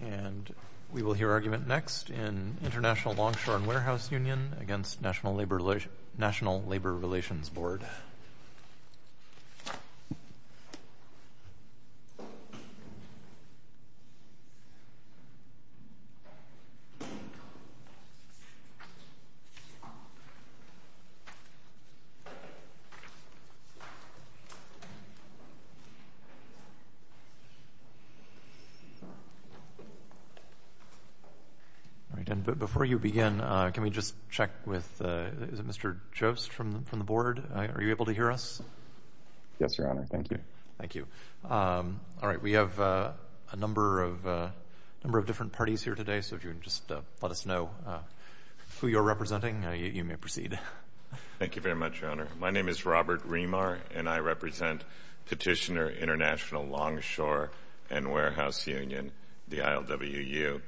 And we will hear argument next in International Longshore and Warehouse Union against National Labor Relations Board. Robert Remar Petitioner, International Longshore and Warehouse Union v. ILWU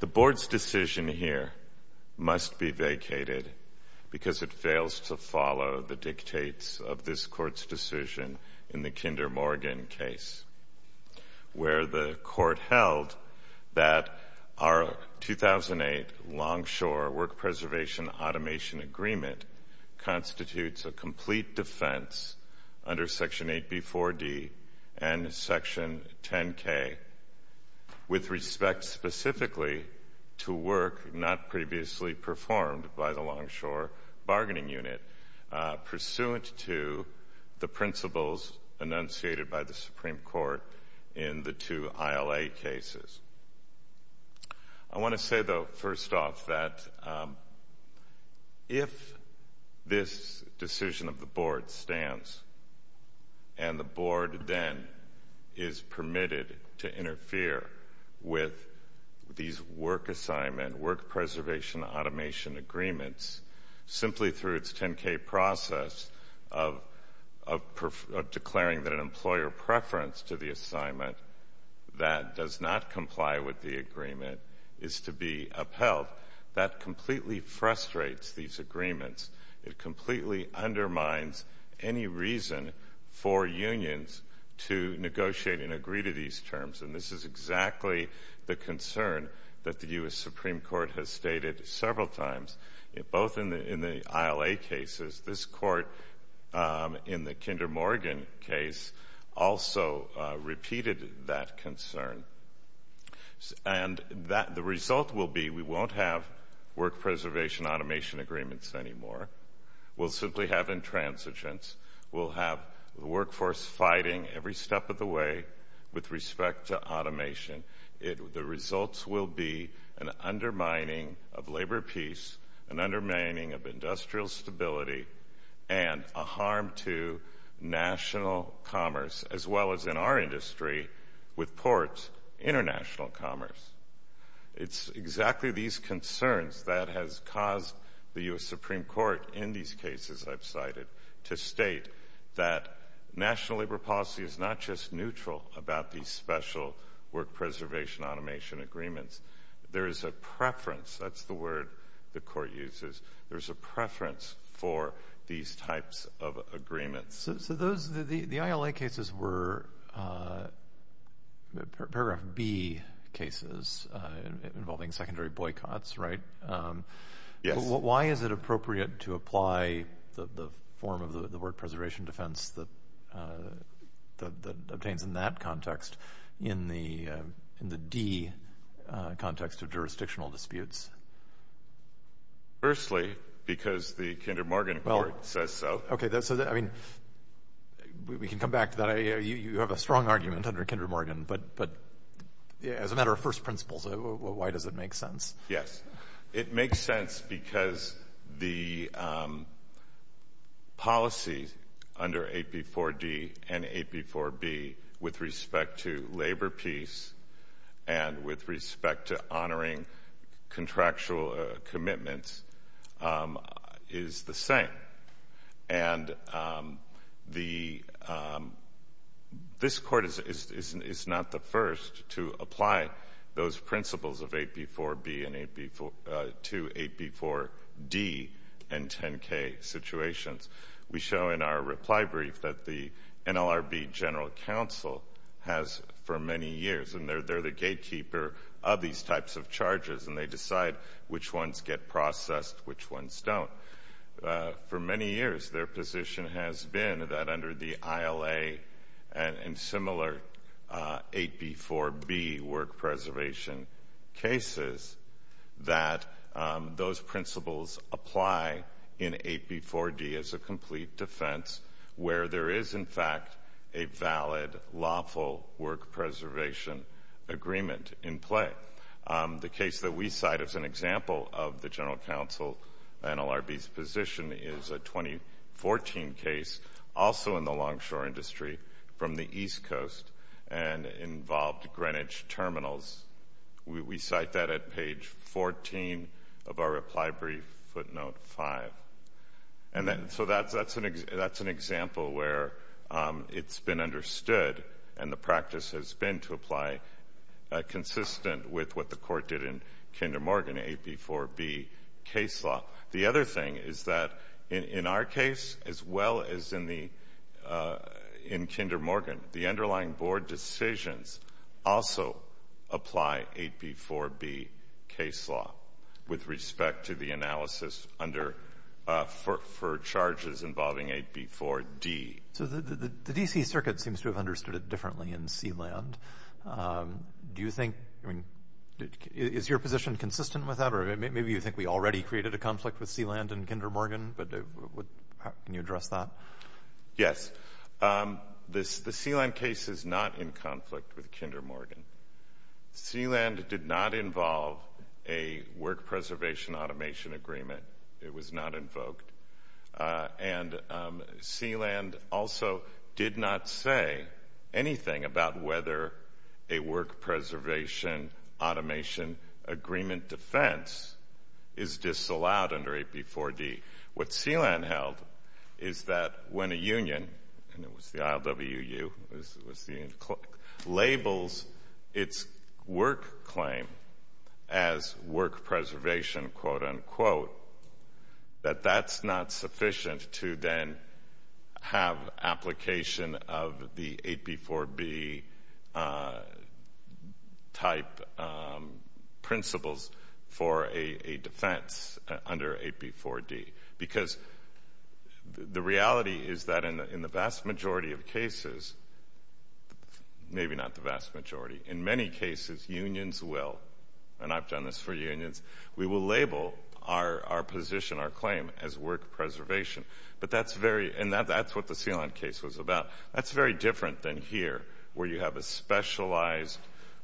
The Board's decision here must be vacated because it fails to follow the dictates of this Court's decision in the Kinder Morgan case, where the Court held that our 2008 Longshore Work Preservation Automation Agreement constitutes a complete defense under Section 8B4D and Section 10K with respect specifically to work not previously performed by the Longshore Bargaining Unit, pursuant to the principles enunciated by the Supreme Court in the two ILA cases. I want to say, though, first off, that if this decision of the Board stands and the Board then is permitted to interfere with these work assignment, work preservation automation agreements, simply through its 10K process of declaring that an employer preference to the assignment that does not comply with the agreement is to be upheld, that completely frustrates these agreements. It completely undermines any reason for unions to negotiate and agree to these terms. And this is exactly the concern that the U.S. Supreme Court has stated several times, both in the ILA cases. This Court, in the Kinder Morgan case, also repeated that concern. And the result will be we won't have work preservation automation agreements anymore. We'll simply have intransigence. We'll have the workforce fighting every step of the way with respect to automation. The results will be an undermining of labor peace, an undermining of industrial stability, and a harm to national commerce, as well as in our industry, with ports, international commerce. It's exactly these concerns that has caused the U.S. Supreme Court, in these cases I've cited, to state that national labor policy is not just neutral about these special work preservation automation agreements. There is a preference, that's the word the Court uses, there's a preference for these types of agreements. So the ILA cases were Paragraph B cases involving secondary boycotts, right? Yes. Why is it appropriate to apply the form of the work preservation defense that obtains in that context in the D context of jurisdictional disputes? Firstly, because the Kinder Morgan Court says so. Okay, I mean, we can come back to that. You have a strong argument under Kinder Morgan, but as a matter of first principles, why does it make sense? Yes. It makes sense because the policy under AP4D and AP4B with respect to labor peace and with respect to honoring contractual commitments is the same. And this Court is not the first to apply those principles of AP4B to AP4D and 10K situations. We show in our reply brief that the NLRB General Counsel has for many years, and they're the gatekeeper of these types of charges, and they decide which ones get processed, which ones don't. For many years, their position has been that under the ILA and similar AP4B work preservation cases, that those principles apply in AP4D as a complete defense where there is, in fact, a valid lawful work preservation agreement in play. The case that we cite as an example of the General Counsel NLRB's position is a 2014 case, also in the longshore industry from the East Coast and involved Greenwich terminals. We cite that at page 14 of our reply brief footnote 5. So that's an example where it's been understood and the practice has been to apply consistent with what the Court did in Kinder Morgan AP4B case law. The other thing is that in our case, as well as in Kinder Morgan, the underlying board decisions also apply AP4B case law with respect to the analysis for charges involving AP4D. So the DC Circuit seems to have understood it differently in Sealand. Is your position consistent with that? Or maybe you think we already created a conflict with Sealand and Kinder Morgan, but can you address that? Yes. The Sealand case is not in conflict with Kinder Morgan. Sealand did not involve a work preservation automation agreement. It was not invoked. And Sealand also did not say anything about whether a work preservation automation agreement defense is disallowed under AP4D. What Sealand held is that when a union, and it was the ILWU, labels its work claim as work preservation, quote unquote, that that's not sufficient to then have application of the AP4B type principles for a defense under AP4D. Because the reality is that in the vast majority of cases, maybe not the vast majority, in many cases unions will, and I've done this for unions, we will label our position, our claim, as work preservation. But that's very, and that's what the Sealand case was about. That's very different than here where you have a specialized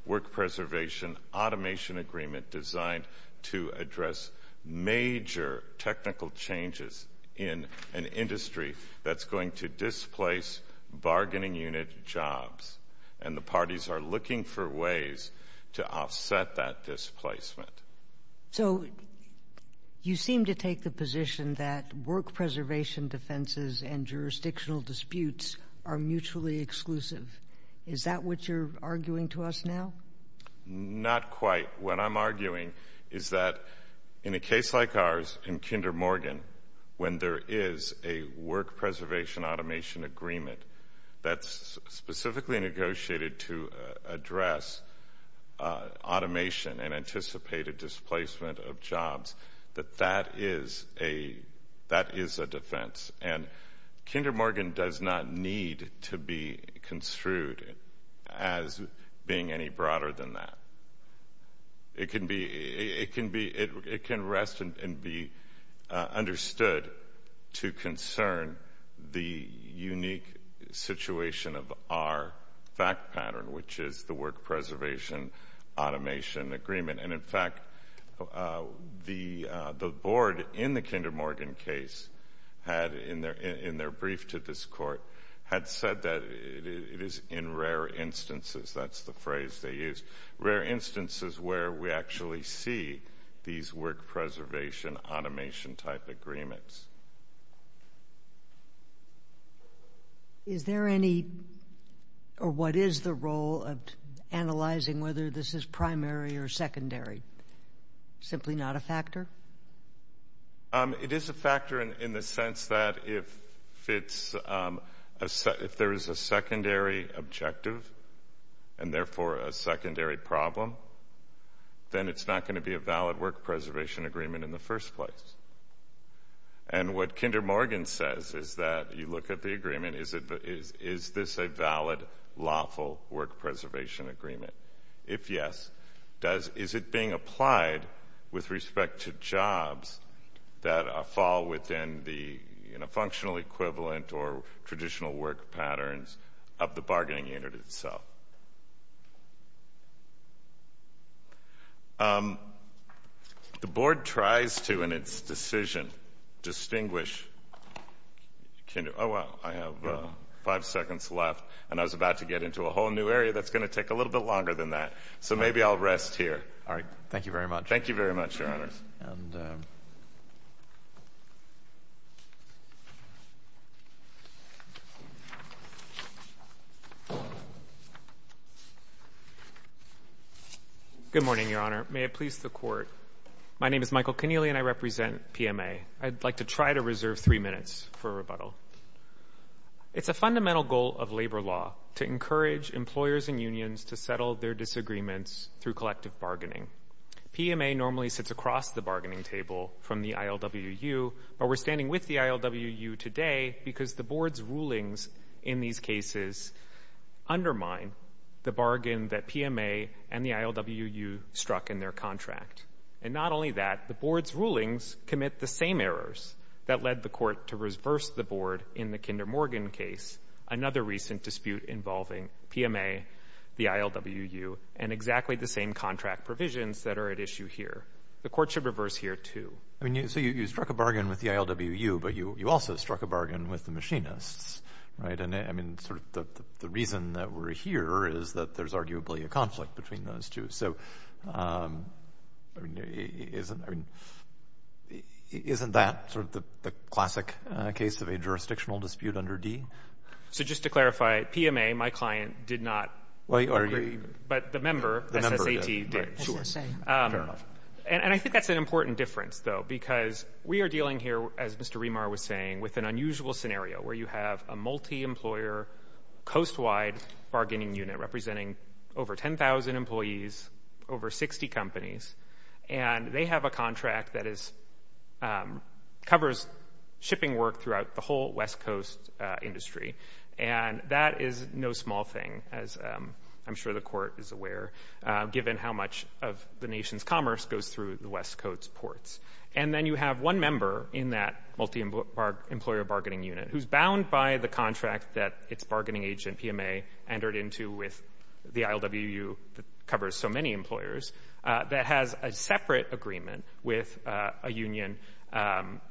work preservation automation agreement designed to address major technical changes in an industry that's going to displace bargaining unit jobs. And the parties are looking for ways to offset that displacement. So you seem to take the position that work preservation defenses and jurisdictional disputes are mutually exclusive. Is that what you're arguing to us now? Not quite. What I'm arguing is that in a case like ours in Kinder Morgan, when there is a work preservation automation agreement that's specifically negotiated to address automation and anticipated displacement of jobs, that that is a defense. And Kinder Morgan does not need to be construed as being any broader than that. It can rest and be understood to concern the unique situation of our fact pattern, which is the work preservation automation agreement. And in fact, the board in the Kinder Morgan case had, in their brief to this court, had said that it is in rare instances, that's the phrase they used, rare instances where we actually see these work preservation automation type agreements. Is there any, or what is the role of analyzing whether this is primary or secondary? Simply not a factor? It is a factor in the sense that if there is a secondary objective, and therefore a secondary problem, then it's not going to be a valid work preservation agreement in the first place. And what Kinder Morgan says is that you look at the agreement, is this a valid, lawful work preservation agreement? If yes, is it being applied with respect to jobs that fall within the functional equivalent or traditional work patterns of the bargaining unit itself? The board tries to, in its decision, distinguish, oh wow, I have five seconds left, and I was about to get into a whole new area that's going to take a little bit longer than that. So maybe I'll rest here. All right. Thank you very much. Thank you very much, Your Honors. Good morning, Your Honor. May it please the Court. My name is Michael Keneally, and I represent PMA. I'd like to try to reserve three minutes for rebuttal. It's a fundamental goal of labor law to encourage employers and unions to settle their disagreements through collective bargaining. PMA normally sits across the bargaining table from the ILWU, but we're undermined the bargain that PMA and the ILWU struck in their contract. And not only that, the board's rulings commit the same errors that led the court to reverse the board in the Kinder Morgan case, another recent dispute involving PMA, the ILWU, and exactly the same contract provisions that are at issue here. The court should reverse here, too. I mean, so you struck a bargain with the ILWU, but you also struck a bargain with the machinists, right? And I mean, sort of the reason that we're here is that there's arguably a conflict between those two. So, I mean, isn't that sort of the classic case of a jurisdictional dispute under D? So just to clarify, PMA, my client, did not agree, but the member, SSAT, did. Sure. Fair enough. And I think that's an important difference, though, because we are dealing here, as Mr. McLaughlin said, with an unusual scenario where you have a multi-employer, coast-wide bargaining unit representing over 10,000 employees, over 60 companies, and they have a contract that covers shipping work throughout the whole West Coast industry. And that is no small thing, as I'm sure the court is aware, given how much of the nation's commerce goes through the West Coast ports. And then you have one member in that multi-employer bargaining unit who's bound by the contract that its bargaining agent, PMA, entered into with the ILWU that covers so many employers that has a separate agreement with a union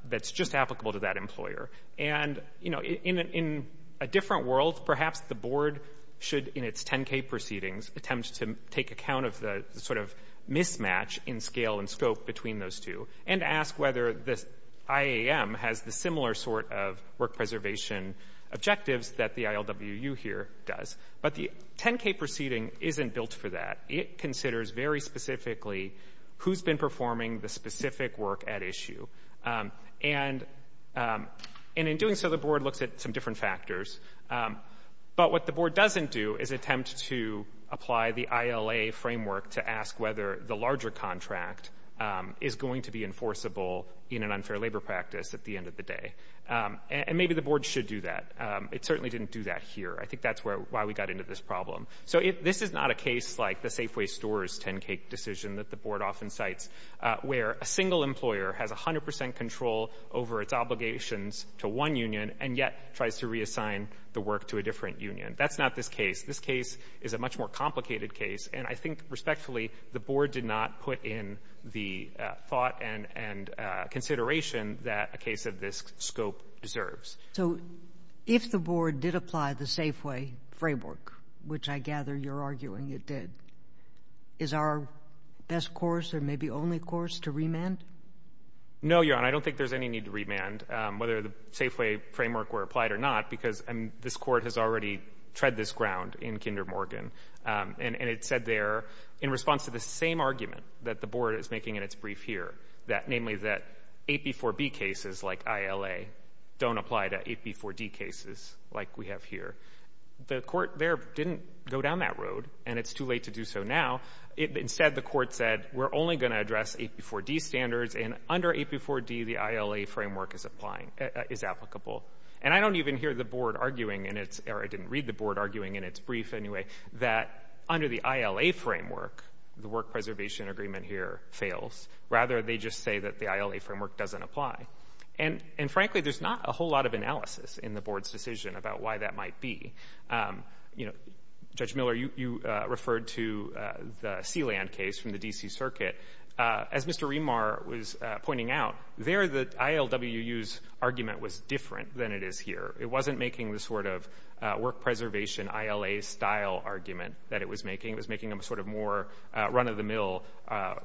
that's just applicable to that employer. And, you know, in a different world, perhaps the board should, in its 10K proceedings, attempt to take account of the sort of mismatch in scale and scope between those two and ask whether the IAM has the similar sort of work preservation objectives that the ILWU here does. But the 10K proceeding isn't built for that. It considers very specifically who's been performing the specific work at issue. And in doing so, the board looks at some different factors. But what the board doesn't do is attempt to apply the ILA framework to ask whether the larger contract is going to be enforceable in an unfair labor practice at the end of the day. And maybe the board should do that. It certainly didn't do that here. I think that's why we got into this problem. So this is not a case like the Safeway Stores 10K decision that the board often cites, where a single employer has 100 percent control over its obligations to one union and yet tries to reassign the work to a different union. That's not this case. This case is a much more complicated case. And I think, respectfully, the board did not put in the thought and consideration that a case of this scope deserves. So if the board did apply the Safeway framework, which I gather you're arguing it did, is our best course or maybe only course to remand? No, Your Honor, I don't think there's any need to remand. Whether the Safeway framework were applied or not, because this Court has already tread this ground in Kinder Morgan. And it said there, in response to the same argument that the board is making in its brief here, that namely that AP4B cases like ILA don't apply to AP4D cases like we have here, the Court there didn't go down that road, and it's too late to do so now. Instead, the Court said, we're only going to standards, and under AP4D, the ILA framework is applicable. And I don't even hear the board arguing in its, or I didn't read the board arguing in its brief anyway, that under the ILA framework, the work preservation agreement here fails. Rather, they just say that the ILA framework doesn't apply. And frankly, there's not a whole lot of analysis in the board's decision about why that might be. You know, Judge Miller, you referred to the Sealand case from the D.C. Circuit. As Mr. Rimar was pointing out, there the ILWU's argument was different than it is here. It wasn't making the sort of work preservation ILA-style argument that it was making. It was making a sort of more run-of-the-mill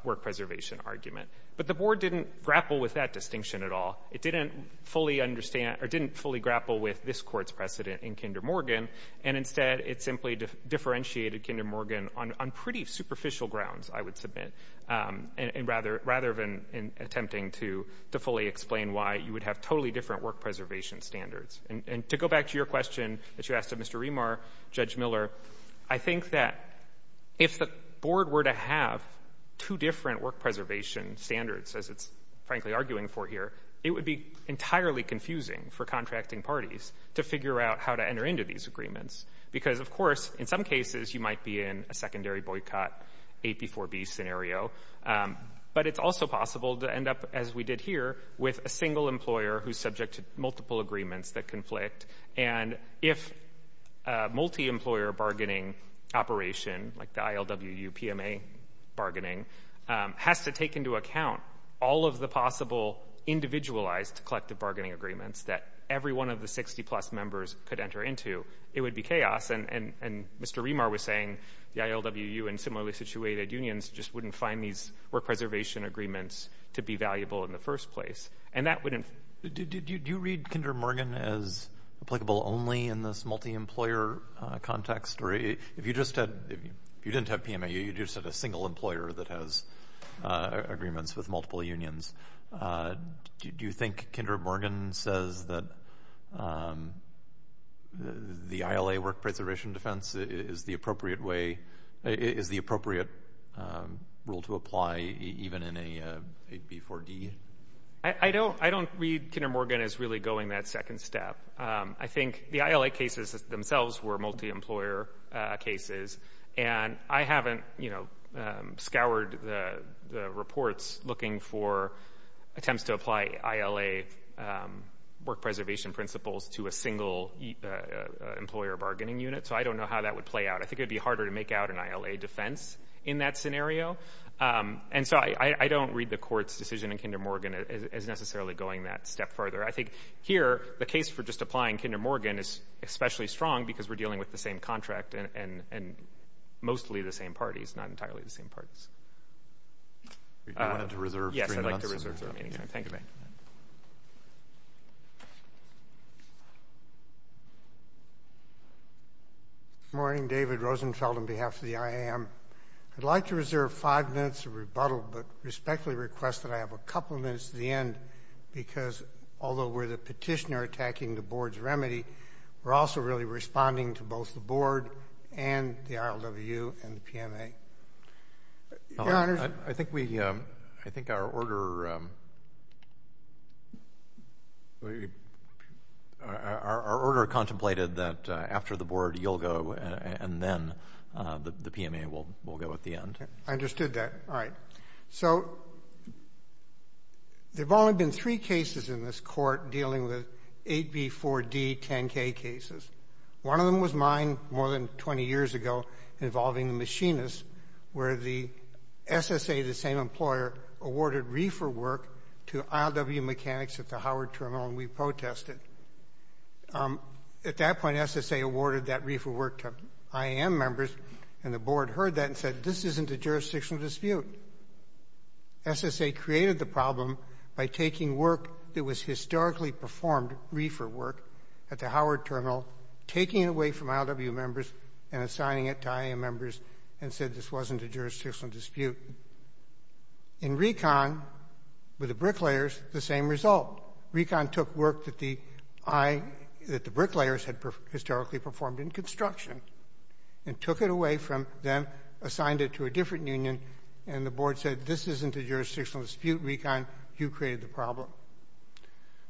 work preservation argument. But the board didn't grapple with that distinction at all. It didn't fully understand, or didn't fully grapple with this Court's precedent in Kinder Morgan. And instead, it simply differentiated Kinder Morgan on pretty superficial grounds, I would submit, rather than attempting to fully explain why you would have totally different work preservation standards. And to go back to your question that you asked of Mr. Rimar, Judge Miller, I think that if the board were to have two different work preservation standards, as it's frankly arguing for here, it would be entirely confusing for contracting parties to figure out how to enter into these agreements. Because, of course, in some cases, you might be in a secondary boycott, A before B scenario. But it's also possible to end up, as we did here, with a single employer who's subject to multiple agreements that conflict. And if a multi-employer operation, like the ILWU-PMA bargaining, has to take into account all of the possible individualized collective bargaining agreements that every one of the 60-plus members could enter into, it would be chaos. And Mr. Rimar was saying the ILWU and similarly situated unions just wouldn't find these work preservation agreements to be valuable in the first place. And that you just had, if you didn't have PMA, you just had a single employer that has agreements with multiple unions. Do you think Kendra Morgan says that the ILA work preservation defense is the appropriate way, is the appropriate rule to apply even in a B4D? I don't read Kendra Morgan as really going that second step. I think the ILA cases themselves were multi-employer cases. And I haven't, you know, scoured the reports looking for attempts to apply ILA work preservation principles to a single employer bargaining unit. So I don't know how that would play out. I think it would be harder to make out an ILA defense in that scenario. And so I don't read the court's decision in Kendra Morgan as necessarily going that step further. I think here, the case for just applying Kendra Morgan is especially strong because we're dealing with the same contract and mostly the same parties, not entirely the same parties. I wanted to reserve three minutes. Yes, I'd like to reserve three minutes. Thank you. Good morning, David Rosenfeld on behalf of the IAM. I'd like to reserve five minutes of rebuttal, but respectfully request that I have a couple of minutes to the end, because although we're the petitioner attacking the Board's remedy, we're also really responding to both the Board and the ILWU and the PMA. Your Honor, I think we, I think our order, our order contemplated that after the Board, you'll go and then the PMA will go at the end. I understood that. All right. So there have only been three cases in this Court dealing with 8B, 4D, 10K cases. One of them was mine more than 20 years ago involving the machinists, where the SSA, the same employer, awarded reefer work to ILWU mechanics at the Howard Terminal, and we protested. At that point, SSA awarded that reefer work to IAM members, and the Board heard that and said, this isn't a jurisdictional dispute. SSA created the problem by taking work that was historically performed reefer work at the Howard Terminal, taking it away from ILWU members, and assigning it to IAM members, and said this wasn't a jurisdictional dispute. In RECON, with the bricklayers, the same result. RECON took work that the I, that the bricklayers had historically performed in construction, and took it away from them, assigned it to a different union, and the Board said, this isn't a jurisdictional dispute. RECON, you created the problem.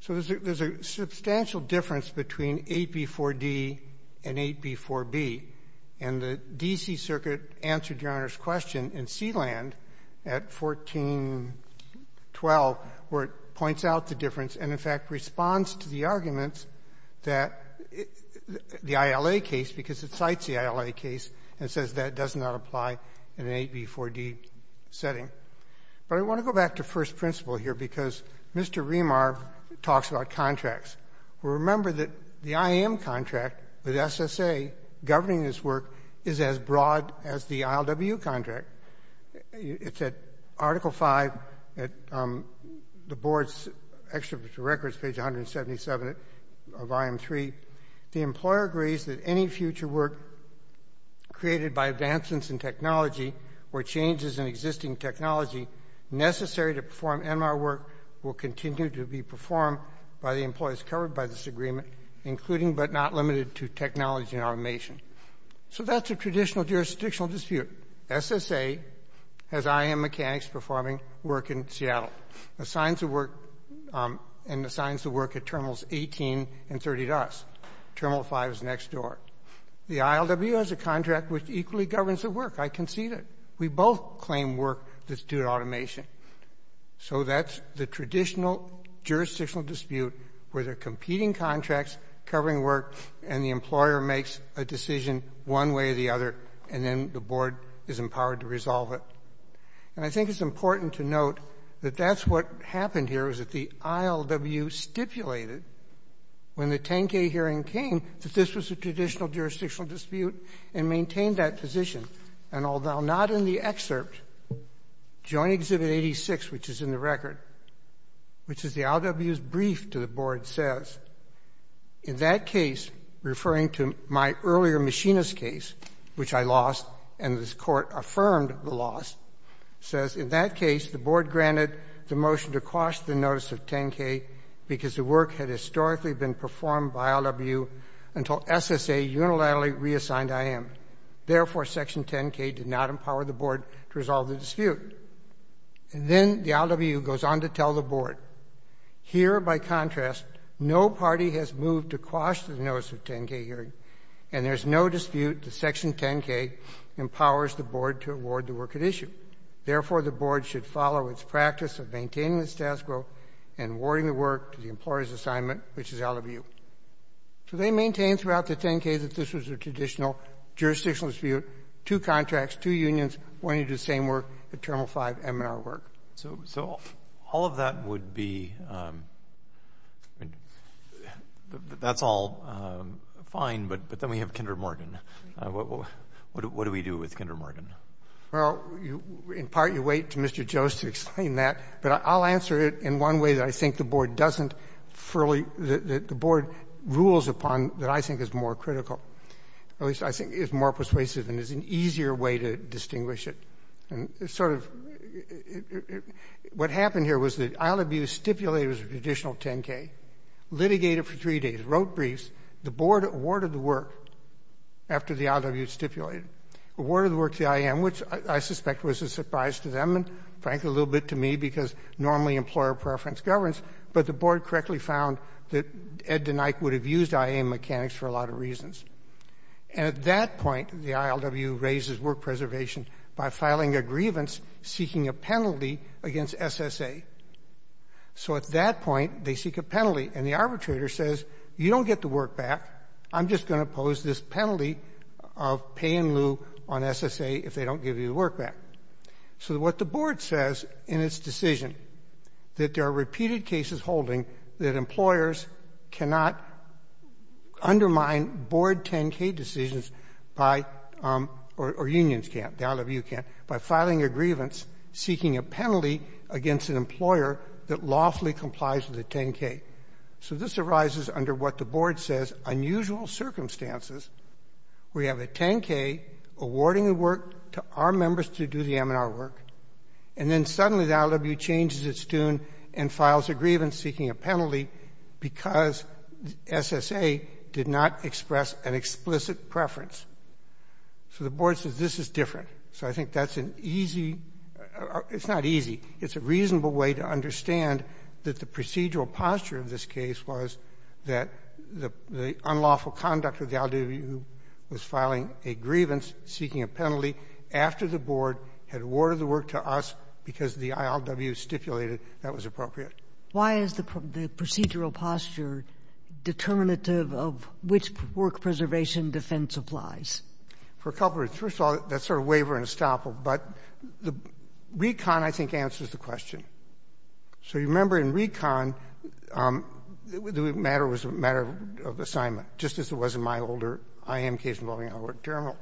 So there's a substantial difference between 8B, 4D and 8B, 4B, and the D.C. Circuit answered Your Honor's question in Sealand at 1412, where it points out the difference and, in fact, responds to the arguments that the ILA case, because it cites the ILA case, and says that does not apply in an 8B, 4D setting. But I want to go back to first principle here, because Mr. Remar talks about contracts. Remember that the IAM contract with SSA governing this work is as broad as the ILWU contract. It's at Article V, at the Board's Extroverture Records, page 177 of IAM 3. The employer agrees that any future work created by advancements in technology, or changes in existing technology necessary to perform NMAR work will continue to be performed by the employees covered by this agreement, including but not limited to technology and automation. So that's a traditional jurisdictional dispute. SSA has IAM mechanics performing work in Seattle, and assigns the work at Terminals 18 and 30 to us. Terminal 5 is next door. The ILWU has a contract which equally governs the work. I concede it. We both claim work that's due to automation. So that's the traditional jurisdictional dispute where they're contracts, covering work, and the employer makes a decision one way or the other, and then the Board is empowered to resolve it. And I think it's important to note that that's what happened here, is that the ILWU stipulated when the 10K hearing came that this was a traditional jurisdictional dispute, and maintained that position. And although not in the excerpt, Joint Exhibit 86, which is in the record, which is the ILWU's brief to the Board, says, in that case, referring to my earlier machinist case, which I lost, and this Court affirmed the loss, says, in that case, the Board granted the motion to quash the notice of 10K because the work had historically been performed by ILWU until SSA unilaterally reassigned IAM. Therefore, Section 10K did not empower the Board to resolve the dispute. And then the ILWU goes on to tell the Board, here, by contrast, no party has moved to quash the notice of 10K hearing, and there's no dispute that Section 10K empowers the Board to award the work at issue. Therefore, the Board should follow its practice of maintaining the status quo and awarding the work to the employer's assignment, which is ILWU. So they maintain throughout the 10K that this was a traditional jurisdictional dispute, two contracts, two unions, wanting to do the same work, the Terminal 5 M&R work. Roberts. So all of that would be — that's all fine, but then we have Kinder Morgan. What do we do with Kinder Morgan? Levin. Well, in part, you wait to Mr. Jost to explain that. But I'll answer it in one way that I think the Board doesn't fully — that the Board rules upon that I think is more critical, at least I think is more persuasive and is an easier way to distinguish it. And sort of — what happened here was that ILWU stipulated it was a traditional 10K, litigated for three days, wrote briefs. The Board awarded the work after the ILWU stipulated it, awarded the work to the IAM, which I suspect was a surprise to them and, frankly, a little bit to me, because normally employer preference governs. But the Board found that Ed DeNike would have used IAM mechanics for a lot of reasons. And at that point, the ILWU raises work preservation by filing a grievance seeking a penalty against SSA. So at that point, they seek a penalty. And the arbitrator says, you don't get the work back. I'm just going to pose this penalty of pay in lieu on SSA if they don't give you the work back. So what the Board says in its decision, that there are repeated cases holding that employers cannot undermine Board 10K decisions by — or unions can't, the ILWU can't — by filing a grievance seeking a penalty against an employer that lawfully complies with a 10K. So this arises under what the Board says unusual circumstances where you have a 10K awarding the work to our members to do the M&R work, and then suddenly the ILWU changes its tune and files a grievance seeking a penalty because SSA did not express an explicit preference. So the Board says this is different. So I think that's an easy — it's not easy. It's a reasonable way to understand that the procedural posture of this case was that the unlawful conduct of the ILWU was filing a grievance seeking a penalty after the Board had awarded the work to us because the ILWU stipulated that was appropriate. Kagan. Why is the procedural posture determinative of which work preservation defense applies? Levin. For a couple of reasons. First of all, that's sort of waver and estoppel. But RECON, I think, answers the question. So you remember in RECON, the matter was a matter of assignment, just as it was in my older IM case involving Howard and Termel.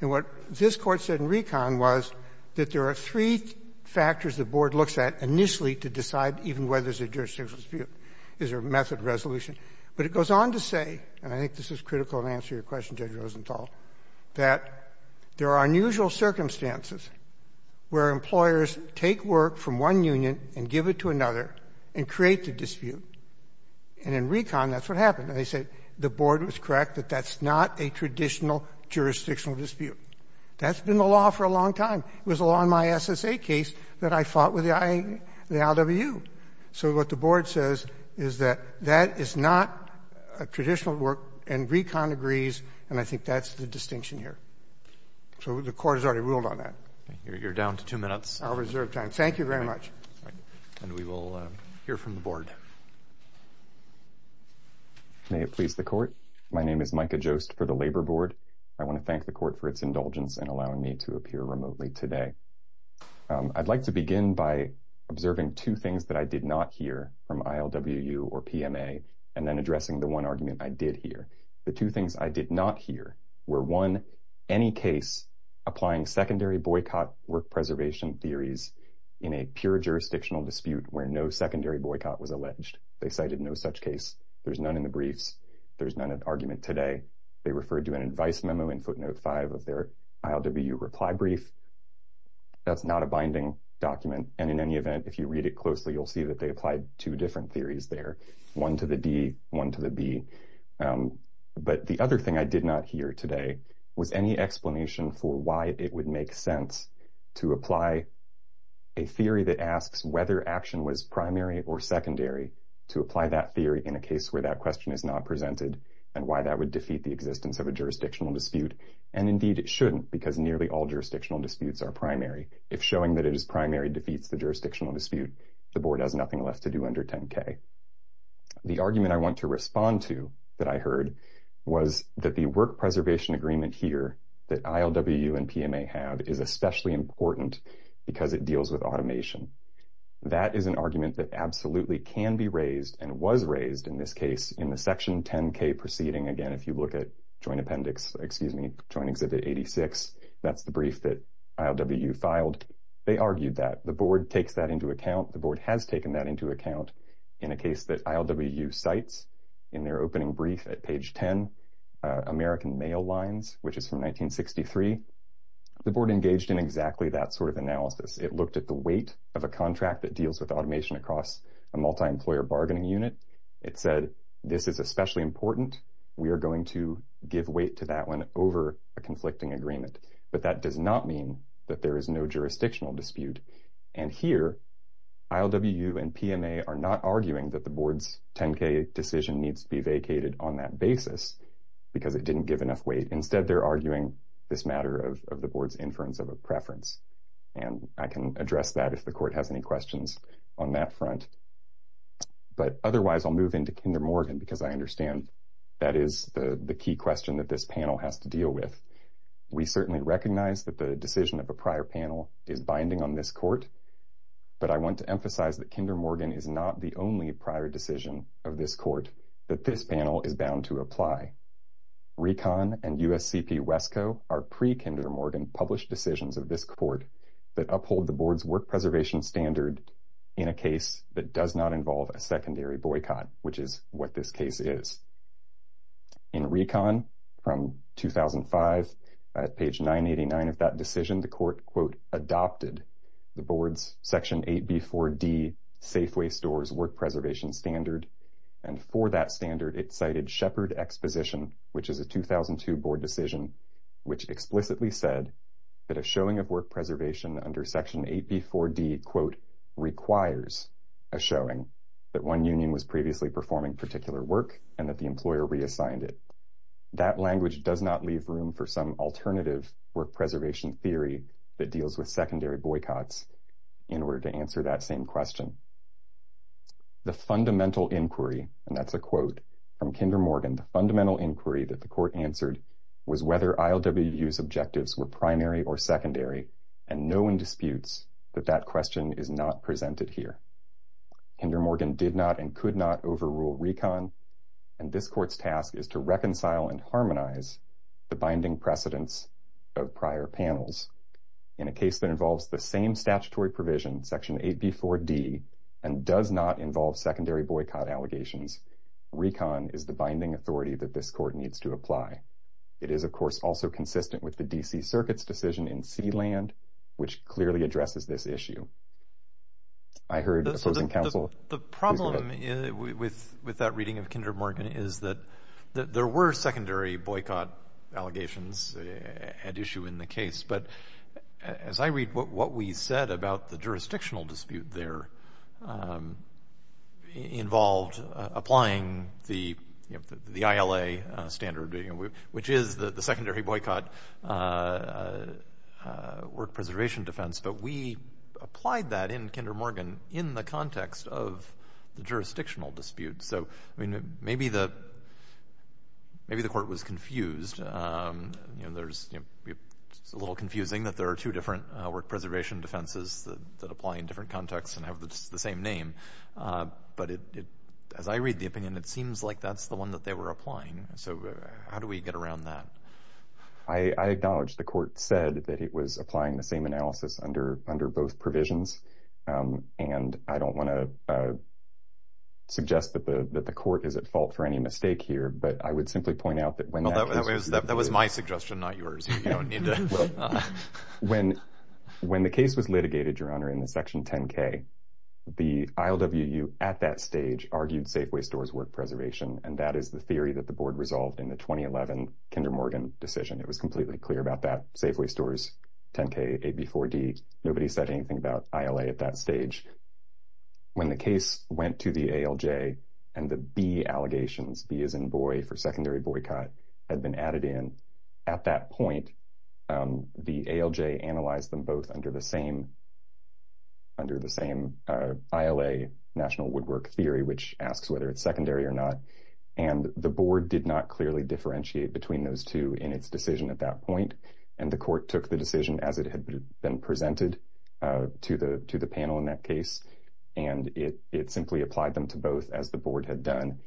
And what this Court said in RECON was that there are three factors the Board looks at initially to decide even whether there's a jurisdictional dispute. Is there a method of resolution? But it goes on to say — and I think this is critical in answering your question, Judge Rosenthal — that there are unusual circumstances where employers take work from one union and give it to another and create the dispute. And in RECON, that's what happened. And they said the Board was correct that that's not a traditional jurisdictional dispute. That's been the law for a long time. It was the law in my SSA case that I fought with the ILWU. So what the Board says is that that is not a traditional and RECON agrees, and I think that's the distinction here. So the Court has already ruled on that. You're down to two minutes. I'll reserve time. Thank you very much. And we will hear from the Board. May it please the Court. My name is Micah Jost for the Labor Board. I want to thank the Court for its indulgence in allowing me to appear remotely today. I'd like to begin by observing two things that I did not hear from ILWU or PMA and then addressing the one I did hear. The two things I did not hear were, one, any case applying secondary boycott work preservation theories in a pure jurisdictional dispute where no secondary boycott was alleged. They cited no such case. There's none in the briefs. There's none at argument today. They referred to an advice memo in footnote five of their ILWU reply brief. That's not a binding document. And in any event, if you read it closely, you'll see that they applied two different theories there, one to the D, one to the B. But the other thing I did not hear today was any explanation for why it would make sense to apply a theory that asks whether action was primary or secondary to apply that theory in a case where that question is not presented and why that would defeat the existence of a jurisdictional dispute. And indeed, it shouldn't because nearly all jurisdictional disputes are primary. If showing that it is primary defeats the jurisdictional dispute, the Board has nothing less to do under 10K. The argument I want to respond to that I heard was that the work preservation agreement here that ILWU and PMA have is especially important because it deals with automation. That is an argument that absolutely can be raised and was raised in this case in the section 10K proceeding. Again, if you look at Joint Appendix, excuse me, Joint Exhibit 86, that's the brief that ILWU filed. They argued that the Board takes that into account. The Board has taken that into account in a case that ILWU cites in their opening brief at page 10, American Mail Lines, which is from 1963. The Board engaged in exactly that sort of analysis. It looked at the weight of a contract that deals with automation across a multi-employer bargaining unit. It said, this is especially important. We are going to give weight to that one over a conflicting agreement. But that does not mean that there is no jurisdictional dispute. Here, ILWU and PMA are not arguing that the Board's 10K decision needs to be vacated on that basis because it didn't give enough weight. Instead, they're arguing this matter of the Board's inference of a preference. I can address that if the Court has any questions on that front. But otherwise, I'll move into Kinder Morgan because I understand that is the key question that this panel has to deal with. We certainly recognize that the decision of a prior panel is binding on this Court. But I want to emphasize that Kinder Morgan is not the only prior decision of this Court that this panel is bound to apply. RECON and USCP-WESCO are pre-Kinder Morgan published decisions of this Court that uphold the Board's work preservation standard in a case that does not involve a secondary boycott, which is what this case is. In RECON from 2005, at page 989 of that decision, the Court, quote, adopted the Board's Section 8B4D Safeway Stores work preservation standard. And for that standard, it cited Shepard exposition, which is a 2002 Board decision, which explicitly said that a showing of work preservation under Section 8B4D, quote, requires a showing that one union was previously performing particular work and that the employer reassigned it. That language does not leave room for some alternative work preservation theory that deals with secondary boycotts in order to answer that same question. The fundamental inquiry, and that's a quote from Kinder Morgan, the fundamental inquiry that the was whether ILWU's objectives were primary or secondary, and no one disputes that that question is not presented here. Kinder Morgan did not and could not overrule RECON, and this Court's task is to reconcile and harmonize the binding precedence of prior panels. In a case that involves the same statutory provision, Section 8B4D, and does not involve secondary boycott allegations, RECON is the binding authority that this Court needs to apply. It is, of course, also consistent with the D.C. Circuit's decision in Sealand, which clearly addresses this issue. I heard opposing counsel... The problem with that reading of Kinder Morgan is that there were secondary boycott allegations at issue in the case, but as I read what we said about the jurisdictional dispute there involved applying the ILA standard, which is the secondary boycott work preservation defense, but we applied that in Kinder Morgan in the context of the jurisdictional dispute. So, I mean, maybe the Court was confused. It's a little confusing that there are two different work preservation defenses that apply in different contexts and have the same name, but as I read the opinion, it seems like that's the one that they were applying. So, how do we get around that? I acknowledge the Court said that it was applying the same analysis under both provisions, and I don't want to suggest that the Court is at fault for any mistake here, but I would simply point out that when... That was my suggestion, not yours. Well, when the case was litigated, Your Honor, in the Section 10-K, the ILWU at that stage argued Safeway Stores work preservation, and that is the theory that the Board resolved in the 2011 Kinder Morgan decision. It was completely clear about that. Safeway Stores, 10-K, AB 4-D, nobody said anything about ILA at that stage. When the case went to the ALJ and the B allegations, B as in boy, for secondary boycott had been added in. At that point, the ALJ analyzed them both under the same ILA national woodwork theory, which asks whether it's secondary or not, and the Board did not clearly differentiate between those two in its decision at that point, and the Court took the decision as it had been presented to the panel in that case, and it simply applied them to both as the Board had done.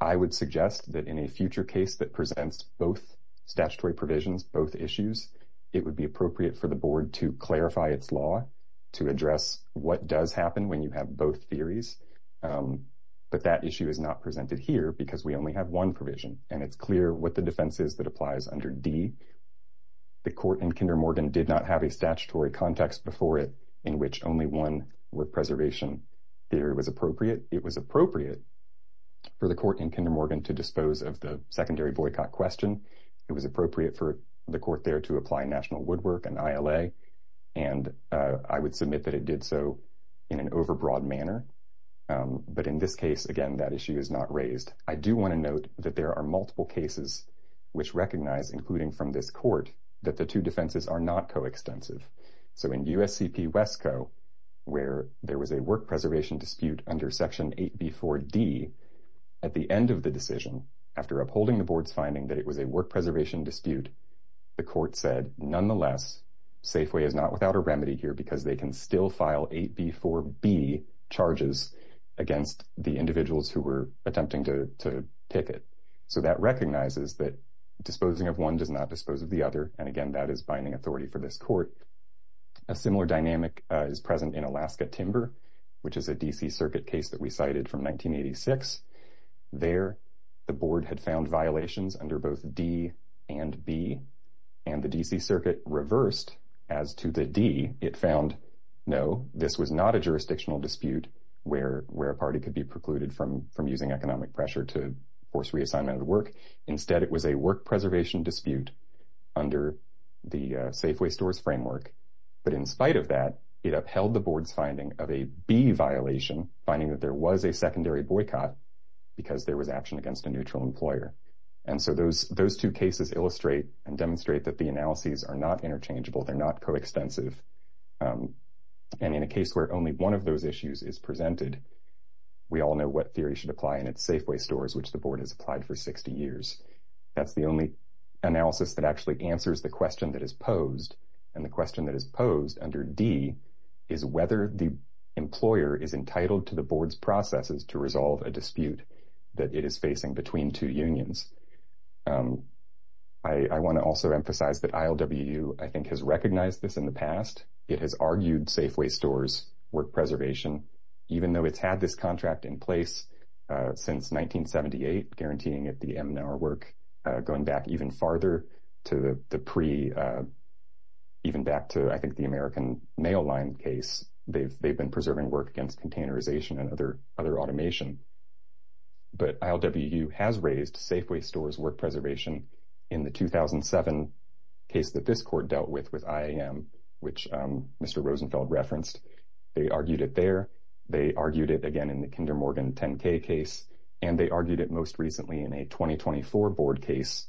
I would suggest that in a future case that presents both statutory provisions, both issues, it would be appropriate for the Board to clarify its law to address what does happen when you have both theories, but that issue is not presented here because we only have one provision, and it's clear what the defense is that applies under D. The Court in Kinder Morgan did not have a statutory context before it in which only one wood preservation theory was appropriate. It was appropriate for the Court in Kinder Morgan to dispose of the secondary boycott question. It was appropriate for the Court there to apply national woodwork and ILA, and I would submit that it did so in an overbroad manner, but in this case, again, that issue is not raised. I do want to note that there are multiple cases which recognize, including from this Court, that the two defenses are not coextensive. So in USCP Wesco, where there was a work preservation dispute under Section 8b4d, at the end of the decision, after upholding the Board's finding that it was a work preservation dispute, the Court said, nonetheless, Safeway is not without a remedy here because they can still file 8b4b charges against the individuals who were attempting to picket. So that recognizes that disposing of one does not dispose of the other, and again, that is binding authority for this Court. A similar dynamic is present in Alaska Timber, which is a D.C. Circuit case that we cited from 1986. There, the Board had found violations under both D and B, and the D.C. Circuit reversed as to the D. It found, no, this was not a jurisdictional dispute where a party could be precluded from using economic pressure to force reassignment of the work. Instead, it was a work preservation dispute under the Safeway Stores framework, but in spite of that, it upheld the Board's finding of a B violation, finding that there was a secondary boycott because there was action against a neutral employer. And so those two cases illustrate and demonstrate that the analyses are not interchangeable, they're not coextensive, and in a case where only one of those issues is presented, we all know what theory should apply, and it's Safeway Stores, which the analysis that actually answers the question that is posed, and the question that is posed under D, is whether the employer is entitled to the Board's processes to resolve a dispute that it is facing between two unions. I want to also emphasize that ILWU, I think, has recognized this in the past. It has argued Safeway Stores work preservation, even though it's had this contract in place since 1978, guaranteeing it the MNR work. Going back even farther to the pre, even back to, I think, the American Mail Line case, they've been preserving work against containerization and other automation. But ILWU has raised Safeway Stores work preservation in the 2007 case that this court dealt with with IAM, which Mr. Rosenfeld referenced. They argued it there, they argued it again in the Kinder Morgan 10k case, and they argued it most recently in a 2024 Board case,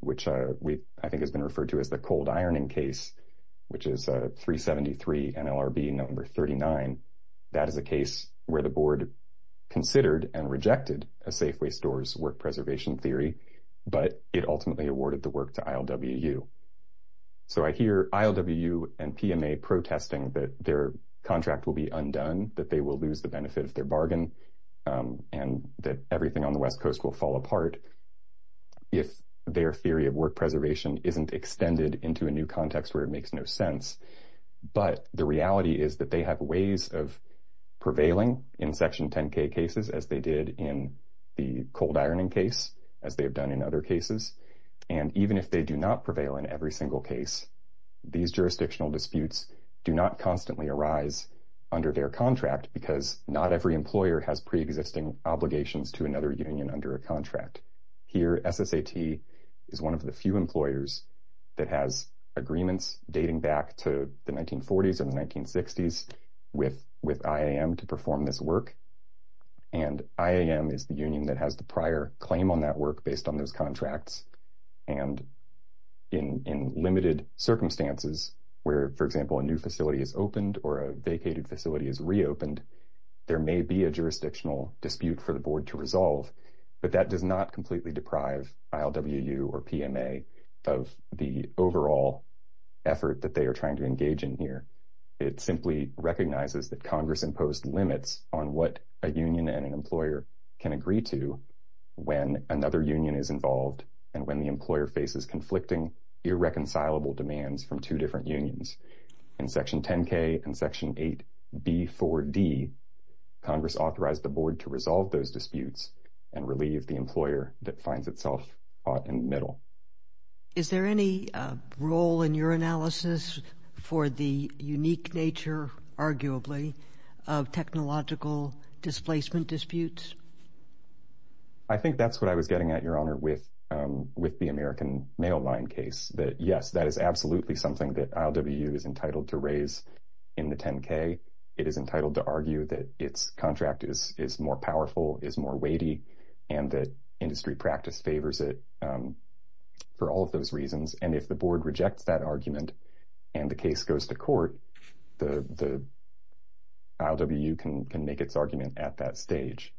which I think has been referred to as the cold ironing case, which is 373 NLRB number 39. That is a case where the Board considered and rejected a Safeway Stores work preservation theory, but it ultimately awarded the work to ILWU. So I hear ILWU and PMA protesting that their contract will be undone, that they will lose the benefit of their bargain, and that everything on the West Coast will fall apart if their theory of work preservation isn't extended into a new context where it makes no sense. But the reality is that they have ways of prevailing in Section 10k cases, as they did in the cold ironing case, as they have done in other cases. And even if they do not prevail in every single case, these jurisdictional disputes do not constantly arise under their contract, because not every employer has pre-existing obligations to another union under a contract. Here, SSAT is one of the few employers that has agreements dating back to the 1940s and the 1960s with IAM to perform this work, and IAM is the union that has the prior claim on that work based on those contracts. And in limited circumstances where, for example, a new facility is opened or a vacated facility is reopened, there may be a jurisdictional dispute for the board to resolve, but that does not completely deprive ILWU or PMA of the overall effort that they are trying to engage in here. It simply recognizes that Congress imposed limits on what a union and an employer can agree to when another union is involved and when the employer faces conflicting, irreconcilable demands from two different unions. In Section 10k and Section 8b4d, Congress authorized the board to resolve those disputes and relieve the employer that finds itself caught in the middle. Is there any role in your analysis for the unique nature, arguably, of technological displacement disputes? I think that's what I was getting at, Your Honor, with the American Mail Line case, that, yes, that is absolutely something that ILWU is entitled to raise in the 10k. It is entitled to argue that its contract is more powerful, is more weighty, and that industry practice favors it for all of those reasons. If the board rejects that argument and the case goes to court, the ILWU can make its argument at that stage.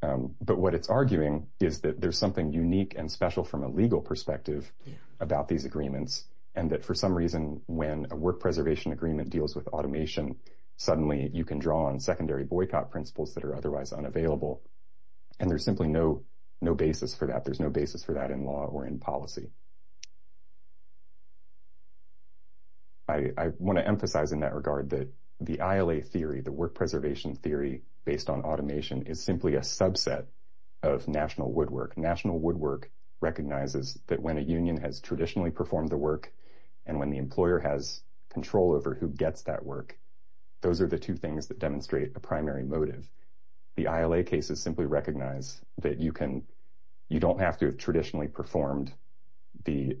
But what it's arguing is that there's something unique and special from a legal perspective about these agreements and that, for some reason, when a work preservation agreement deals with automation, suddenly you can draw on secondary boycott principles that are otherwise unavailable. There's simply no basis for that. There's no basis. I want to emphasize in that regard that the ILA theory, the work preservation theory, based on automation, is simply a subset of national woodwork. National woodwork recognizes that when a union has traditionally performed the work and when the employer has control over who gets that work, those are the two things that demonstrate a primary motive. The ILA cases simply recognize that you don't have to have traditionally performed the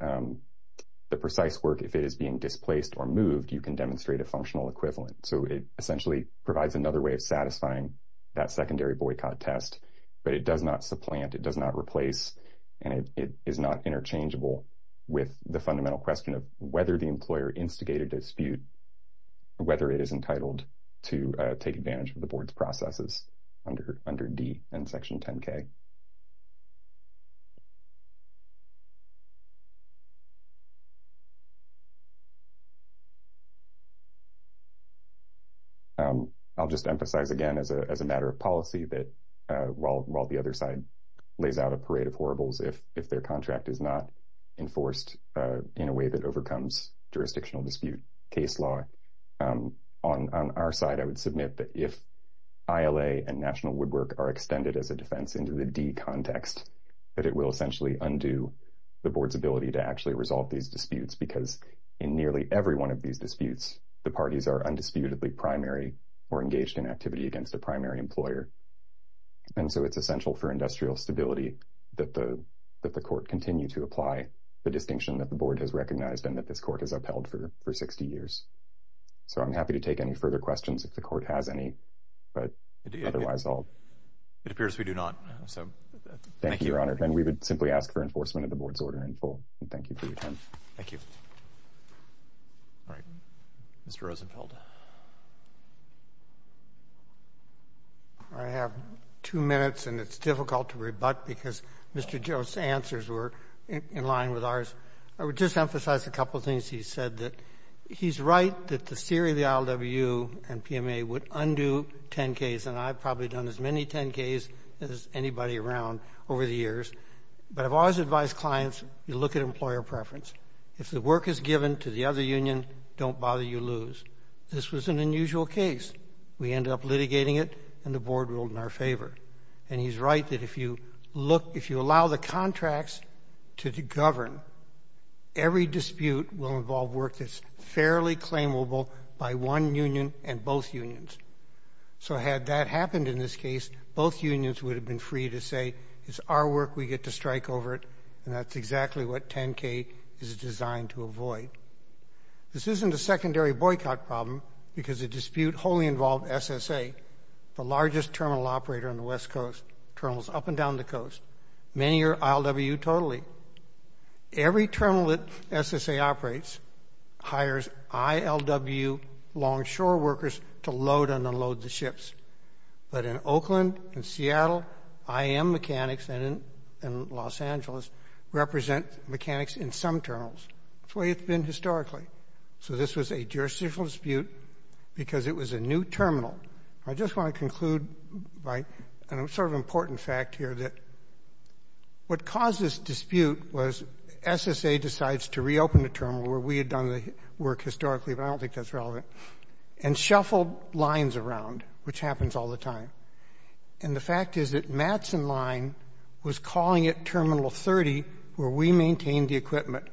precise work if it is being displaced or moved. You can demonstrate a functional equivalent. So it essentially provides another way of satisfying that secondary boycott test, but it does not supplant, it does not replace, and it is not interchangeable with the fundamental question of whether the employer instigated dispute, whether it is entitled to take responsibility. I'll just emphasize again as a matter of policy that, while the other side lays out a parade of horribles, if their contract is not enforced in a way that overcomes jurisdictional dispute case law, on our side, I would submit that if ILA and national woodwork are extended as a defense into the D context, that it will essentially undo the board's ability to actually resolve these disputes because in nearly every one of these disputes, the parties are undisputedly primary or engaged in activity against a primary employer. And so it's essential for industrial stability that the court continue to apply the distinction that the board has recognized and that this court has upheld for 60 years. So I'm happy to take any further questions if the court has any, but otherwise I'll... It appears we do not. So thank you, Your Honor, and we would simply ask for enforcement of the board's order in full. Thank you for your time. Thank you. All right, Mr. Rosenfeld. I have two minutes and it's difficult to rebut because Mr. Joe's answers were in line with ours. I would just emphasize a couple things he said that he's right that the theory of the ILWU and PMA would undo 10Ks, and I've probably done as many 10Ks as anybody around over the years, but I've always advised clients, you look at employer preference. If the work is given to the other union, don't bother, you lose. This was an unusual case. We ended up litigating it, and the board ruled in our favor. And he's right that if you look, if you allow the contracts to govern, every dispute will involve work that's fairly claimable by one union and both unions. So had that happened in this case, both unions would have been free to say, it's our work, we get to strike over it, and that's exactly what 10K is designed to avoid. This isn't a secondary boycott problem because the dispute wholly involved SSA, the largest terminal operator on the West Coast, terminals up and down the coast. Many are ILWU totally. Every terminal that SSA operates hires ILWU longshore workers to load and unload the ships. But in Oakland, in Seattle, IAM mechanics and in Los Angeles represent mechanics in some terminals. That's the way it's been historically. So this was a jurisdictional dispute because it was a new terminal. I just want to conclude by a sort of important fact here that what caused this dispute was SSA decides to reopen the terminal where we had done the work historically, but I don't think that's relevant, and shuffled lines around, which happens all the time. And the fact is that Mattson Line was calling it Terminal 30 where we maintained the equipment.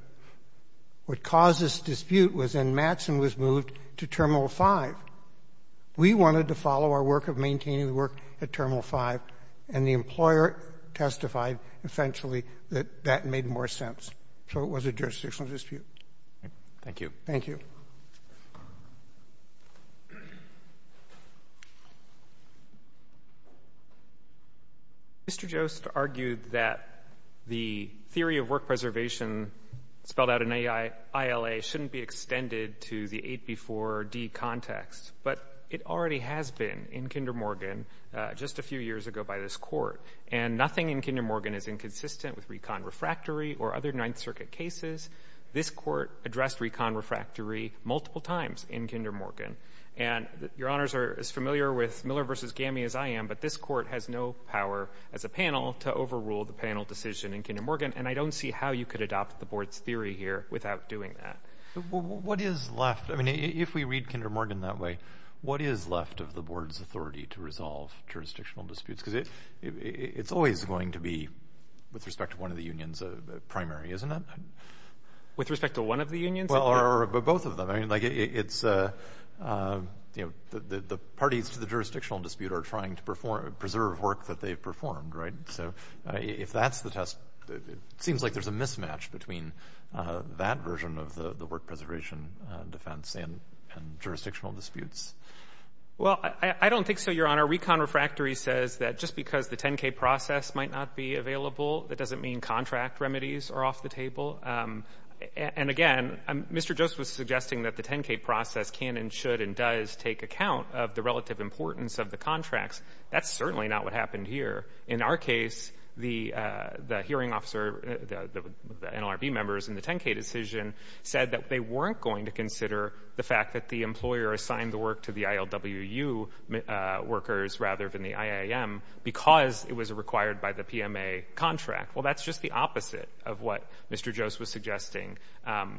What caused this dispute was then Mattson was moved to Terminal 5. We wanted to our work of maintaining the work at Terminal 5, and the employer testified, essentially, that that made more sense. So it was a jurisdictional dispute. Thank you. Mr. Jost argued that the theory of work preservation spelled out in ILA shouldn't be extended to the 8B4D context, but it already has been in Kinder Morgan just a few years ago by this Court. And nothing in Kinder Morgan is inconsistent with recon refractory or other Ninth Circuit cases. This Court addressed recon refractory multiple times in Kinder Morgan. And Your Honors are as familiar with Miller v. Gami as I am, but this Court has no power as a panel to overrule the panel decision in Kinder Morgan, and I don't see how you could adopt the Board's theory here without doing that. What is left? I mean, if we read Kinder Morgan that way, what is left of the Board's authority to resolve jurisdictional disputes? Because it's always going to be with respect to one of the unions a primary, isn't it? With respect to one of the unions? Well, or both of them. I mean, like it's, you know, the parties to the jurisdictional dispute are trying to preserve work that they've performed, right? So if that's the test, it seems like there's a mismatch between that version of the work preservation defense and jurisdictional disputes. Well, I don't think so, Your Honor. Recon refractory says that just because the 10-K process might not be available, that doesn't mean contract remedies are off the table. And again, Mr. Joseph was suggesting that the 10-K process can and should and does take account of the relative importance of the contracts. That's certainly not what happened here. In our case, the hearing officer, the NLRB members in the 10-K decision said that they weren't going to consider the fact that the employer assigned the work to the ILWU workers rather than the IAM because it was required by the PMA contract. Well, that's just the opposite of what Mr. Joseph was suggesting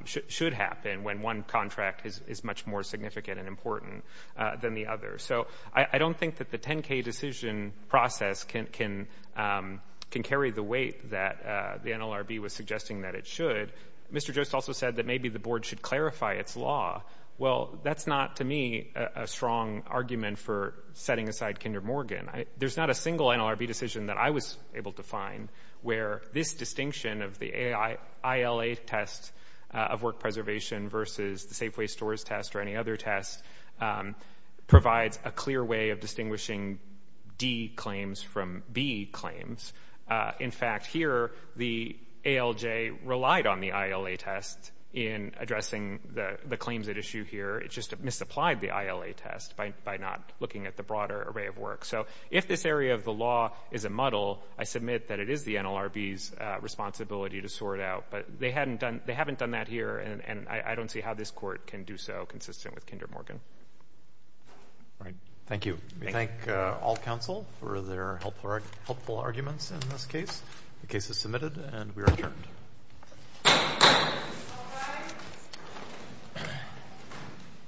should happen when one contract is much more significant and important than the other. So I don't think that the 10-K decision process can carry the weight that the NLRB was suggesting that it should. Mr. Joseph also said that maybe the board should clarify its law. Well, that's not, to me, a strong argument for setting aside Kinder Morgan. There's not a single NLRB decision that I was able to find where this distinction of the ILA test of work preservation versus the Safeway Stores test or any other test provides a clear way of distinguishing D claims from B claims. In fact, here, the ALJ relied on the ILA test in addressing the claims at issue here. It just misapplied the ILA test by not looking at the broader array of work. So if this area of the law is a muddle, I submit that it is the NLRB's responsibility to sort out. But they haven't done that here, and I don't see how this court can do so consistent with Kinder Morgan. All right. Thank you. We thank all counsel for their helpful arguments in this case. The case is submitted, and we are adjourned.